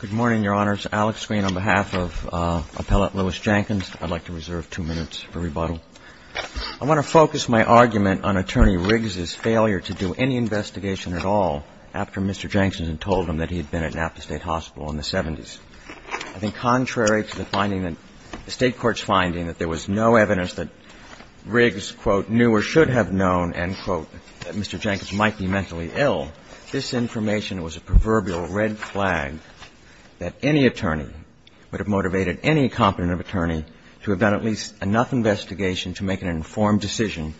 Good morning, Your Honors. Alex Green on behalf of Appellate Louis Jenkins. I'd like to reserve two minutes for rebuttal. I want to focus my argument on Attorney Riggs's failure to do any investigation at all after Mr. Jenkins had told him that he had been at Napa State Hospital in the 70s. I think contrary to the finding that the State Court's finding that there was no evidence that Riggs, quote, knew or should have known, end quote, that Mr. Jenkins might be mentally ill, this information was a proverbial red flag that any attorney would have motivated any competent attorney to have done at least enough investigation to make an informed decision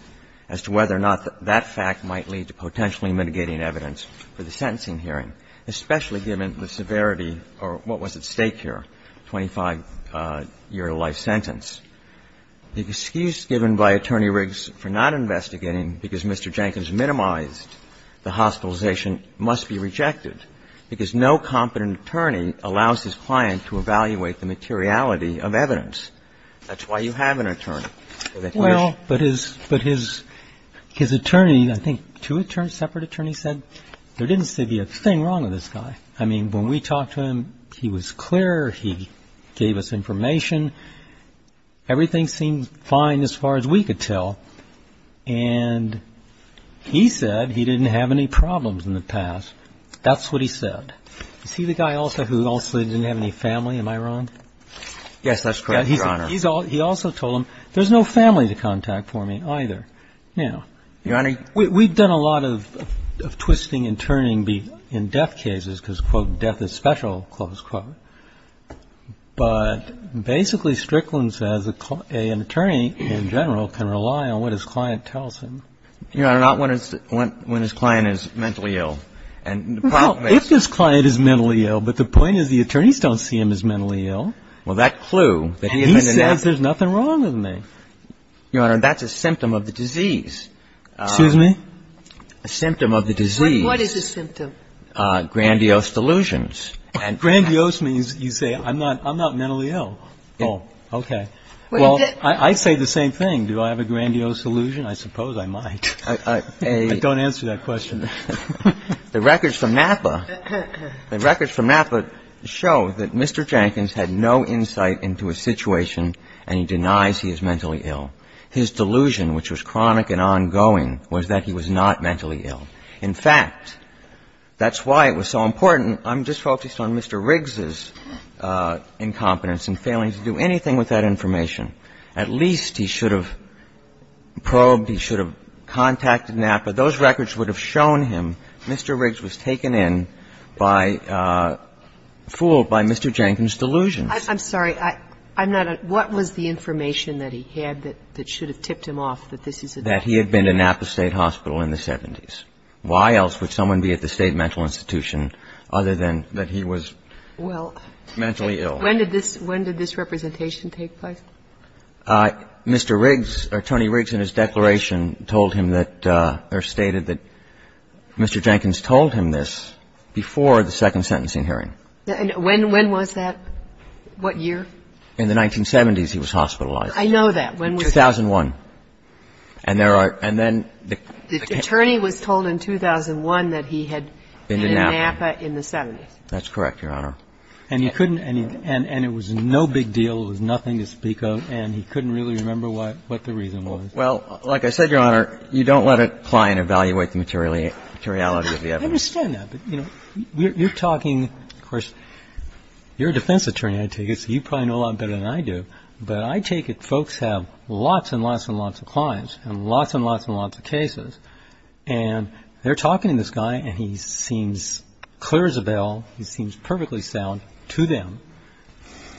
as to whether or not that fact might lead to potentially mitigating evidence for the sentencing hearing, especially given the severity or what was at stake here, 25-year-to-life sentence. The excuse given by Attorney Riggs for not investigating because Mr. Jenkins minimized the hospitalization must be rejected because no competent attorney allows his client to evaluate the materiality of evidence. That's why you have an attorney. So that's why you should be able to make an informed decision. ROBERTS Well, but his attorney, I think two separate attorneys, said there didn't seem to be a thing wrong with this guy. I mean, when we talked to him, he was clear. He gave us information. Everything seemed fine as far as we could tell. And he said he didn't have any problems in the past. That's what he said. Is he the guy also who also didn't have any family? Am I wrong? GENERAL VERRILLI Yes, that's correct, Your Honor. ROBERTS He also told him, there's no family to contact for me either. GENERAL VERRILLI Your Honor? ROBERTS We've done a lot of twisting and turning in death cases because, quote, death is special, close quote. But basically Strickland says an attorney in general can rely on what his client tells him. GENERAL VERRILLI Your Honor, not when his client is mentally ill. ROBERTS Well, if his client is mentally ill, but the point is the attorneys don't see him as mentally ill. GENERAL VERRILLI Well, that clue. ROBERTS That he says there's nothing wrong with me. GENERAL VERRILLI Your Honor, that's a symptom of the disease. ROBERTS Excuse me? GENERAL VERRILLI A symptom of the disease. GENERAL VERRILLI What is the symptom? ROBERTS Grandiose delusions. GENERAL VERRILLI Grandiose means you say I'm not mentally ill. GENERAL VERRILLI Okay. ROBERTS Well, I say the same thing. Do I have a grandiose delusion? I suppose I might. GENERAL VERRILLI I don't answer that question. ROBERTS The records from Napa, the records from Napa show that Mr. Jenkins had no insight into a situation and he denies he is mentally ill. His delusion, which was chronic and ongoing, was that he was not mentally ill. In fact, that's why it was so important. I'm just focused on Mr. Riggs's incompetence and failing to do anything with that information. At least he should have probed, he should have contacted Napa. Those records would have shown him Mr. Riggs was taken in by, fooled by Mr. Jenkins' delusions. GENERAL VERRILLI I'm sorry. I'm not, what was the information that he had that should have tipped him off that this is a delusion? GENERAL VERRILLI He had been to Napa State Hospital in the 70s. Why else would someone be at the state mental institution other than that he was mentally ill? KAGAN When did this representation take place? GENERAL VERRILLI Mr. Riggs, or Tony Riggs in his declaration told him that, or stated that Mr. Jenkins told him this before the second sentencing hearing. KAGAN When was that? What year? GENERAL VERRILLI In the 1970s he was hospitalized. KAGAN I know that. GENERAL VERRILLI 2001. GENERAL VERRILLI And there are, and then the can't KAGAN The attorney was told in 2001 that he had been in Napa in the 70s. GENERAL VERRILLI That's correct, Your Honor. GENERAL VERRILLI And you couldn't, and it was no big deal, it was nothing to speak of, and he couldn't really remember what the reason was. GENERAL VERRILLI Well, like I said, Your Honor, you don't let it apply and evaluate the materiality of the evidence. GENERAL VERRILLI I understand that, but you know, you're talking, of course, you're a defense attorney, I take it, so you probably know a lot better than I do, but I take it folks have lots and lots and lots of clients and lots and lots and lots of cases, and they're talking to this guy, and he seems clear as a bell, he seems perfectly sound to them,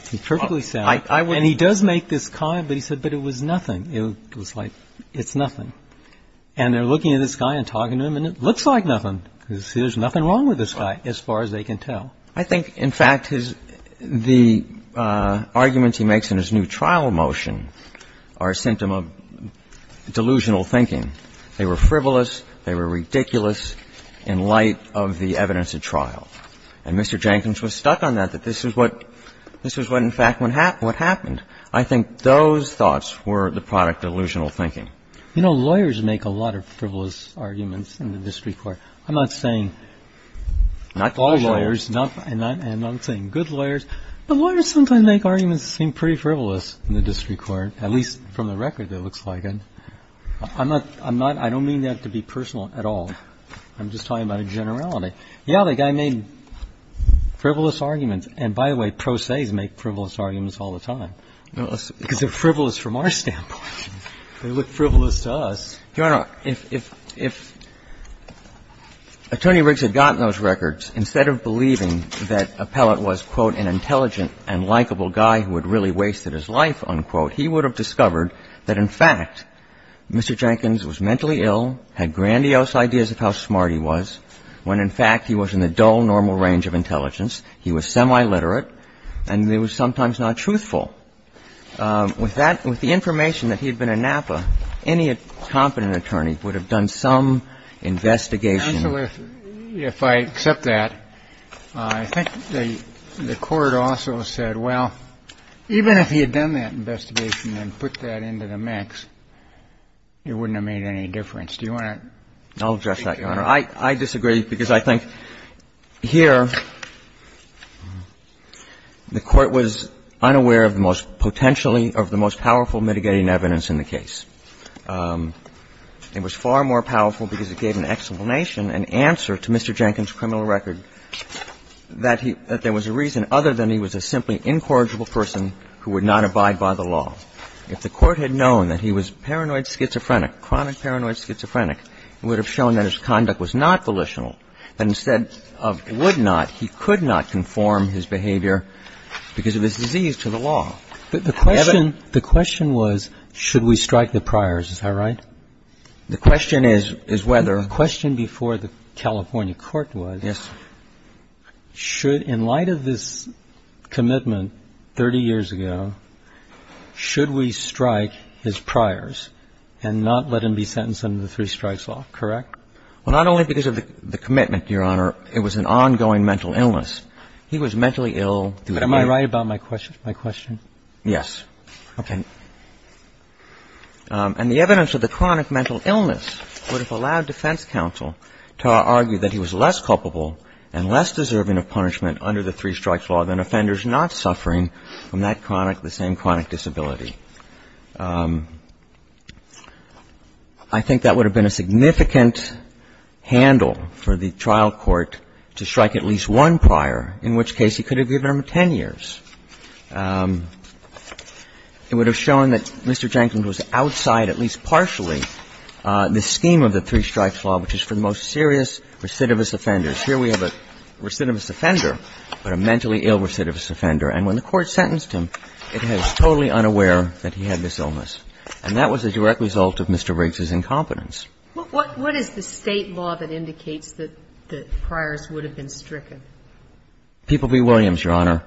he's perfectly sound, and he does make this comment, but he said, but it was nothing, it was like, it's nothing. And they're looking at this guy and talking to him, and it looks like nothing, because there's nothing wrong with this guy as far as they can tell. GENERAL VERRILLI I think, in fact, the arguments he makes in his new trial motion are a symptom of delusional thinking. They were frivolous, they were ridiculous in light of the evidence at trial. And Mr. Jenkins was stuck on that, that this is what, this is what, in fact, what happened. I think those thoughts were the product of delusional thinking. GENERAL VERRILLI You know, lawyers make a lot of frivolous arguments in the district court. I'm not saying all lawyers, and I'm not saying good lawyers, but lawyers sometimes make arguments that seem pretty frivolous in the district court, at least from the record it looks like. I'm not, I don't mean that to be personal at all. I'm just talking about a generality. Yeah, the guy made frivolous arguments, and by the way, pro se's make frivolous arguments all the time, because they're frivolous from our standpoint. They look frivolous to us. GENERAL VERRILLI Your Honor, if Attorney Riggs had gotten those records, instead of believing that Appellate was, quote, an intelligent and likable guy who had really wasted his life, unquote, he would have discovered that, in fact, Mr. Jenkins was mentally ill, had grandiose ideas of how smart he was, when, in fact, he was in the dull, normal range of intelligence. He was semi-literate, and he was sometimes not truthful. With that, with the information that he had been in Napa, any competent attorney would have done some investigation. GENERAL VERRILLI Counselor, if I accept that, I think the Court also said, well, even if he had done that investigation and put that into the mix, it wouldn't have made any difference. Do you want to? GENERAL VERRILLI I disagree, because I think here the Court was unaware of the most potentially, of the most powerful mitigating evidence in the case. It was far more powerful because it gave an explanation, an answer to Mr. Jenkins' criminal record that there was a reason other than he was a simply incorrigible person who would not abide by the law. If the Court had known that he was paranoid schizophrenic, chronic paranoid schizophrenic, it would have shown that his conduct was not volitional. But instead of would not, he could not conform his behavior because of his disease to the law. Roberts The question was, should we strike the priors. Is that right? GENERAL VERRILLI The question is whether ROBERTS The question before the California Court was, should, in light of this should we strike his priors and not let him be sentenced under the three strikes law. Correct? GENERAL VERRILLI Well, not only because of the commitment, Your Honor, it was an ongoing mental illness. He was mentally ill. ROBERTS But am I right about my question? GENERAL VERRILLI Yes. Okay. And the evidence of the chronic mental illness would have allowed defense counsel to argue that he was less culpable and less deserving of punishment under the three strikes law than he would have been if he had a chronic disability. I think that would have been a significant handle for the trial court to strike at least one prior, in which case he could have given him 10 years. It would have shown that Mr. Jenkins was outside, at least partially, the scheme of the three strikes law, which is for the most serious recidivist offenders. Here we have a recidivist offender, but a mentally ill recidivist offender. And when the Court sentenced him, it was totally unaware that he had this illness. And that was a direct result of Mr. Riggs's incompetence. KAGAN What is the State law that indicates that the priors would have been stricken? GENERAL VERRILLI People v. Williams, Your Honor.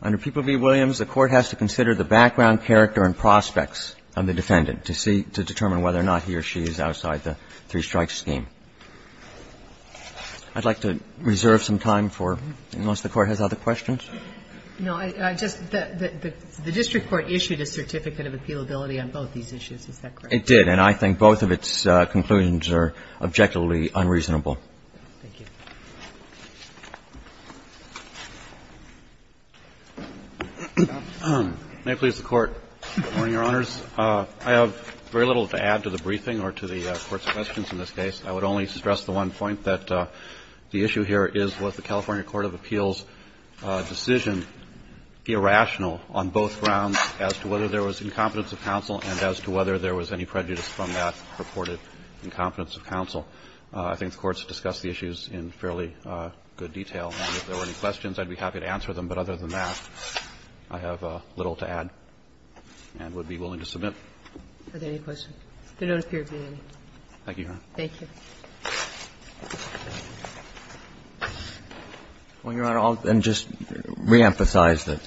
Under People v. Williams, the Court has to consider the background character and prospects of the defendant to determine whether or not he or she is outside the three strikes scheme. I'd like to reserve some time for unless the Court has other questions. KAGAN No, I just the District Court issued a certificate of appealability on both these issues. GENERAL VERRILLI It did. And I think both of its conclusions are objectively unreasonable. KAGAN Thank you. MR. GARRETT May it please the Court. Good morning, Your Honors. I have very little to add to the briefing or to the Court's questions in this case. I would only stress the one point that the issue here is what the California Court of Appeals decision irrational on both grounds as to whether there was incompetence of counsel and as to whether there was any prejudice from that purported incompetence of counsel. I think the Court's discussed the issues in fairly good detail. And if there were any questions, I'd be happy to answer them. But other than that, I have little to add and would be willing to submit. KAGAN Are there any questions? There don't appear to be any. MR. GARRETT Thank you, Your Honor. KAGAN Thank you. MR. GARRETT Well, Your Honor, I'll just reemphasize that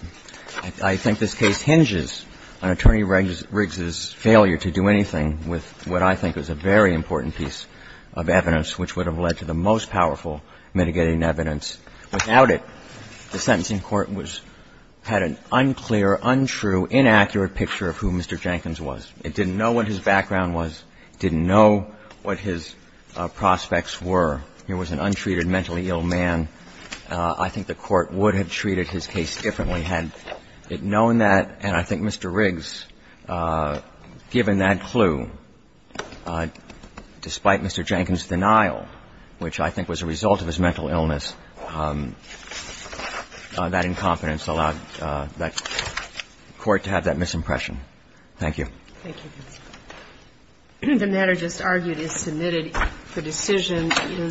I think this case hinges on Attorney Riggs's failure to do anything with what I think is a very important piece of evidence which would have led to the most powerful mitigating evidence. Without it, the sentencing court had an unclear, untrue, inaccurate picture of who Mr. Jenkins was. It didn't know what his background was. It didn't know what his prospects were. He was an untreated, mentally ill man. I think the Court would have treated his case differently had it known that. And I think Mr. Riggs, given that clue, despite Mr. Jenkins' denial, which I think was a result of his mental illness, that incompetence allowed that Court to have that misimpression. Thank you. MS. GOTTLIEB Thank you. The matter just argued is submitted for decision.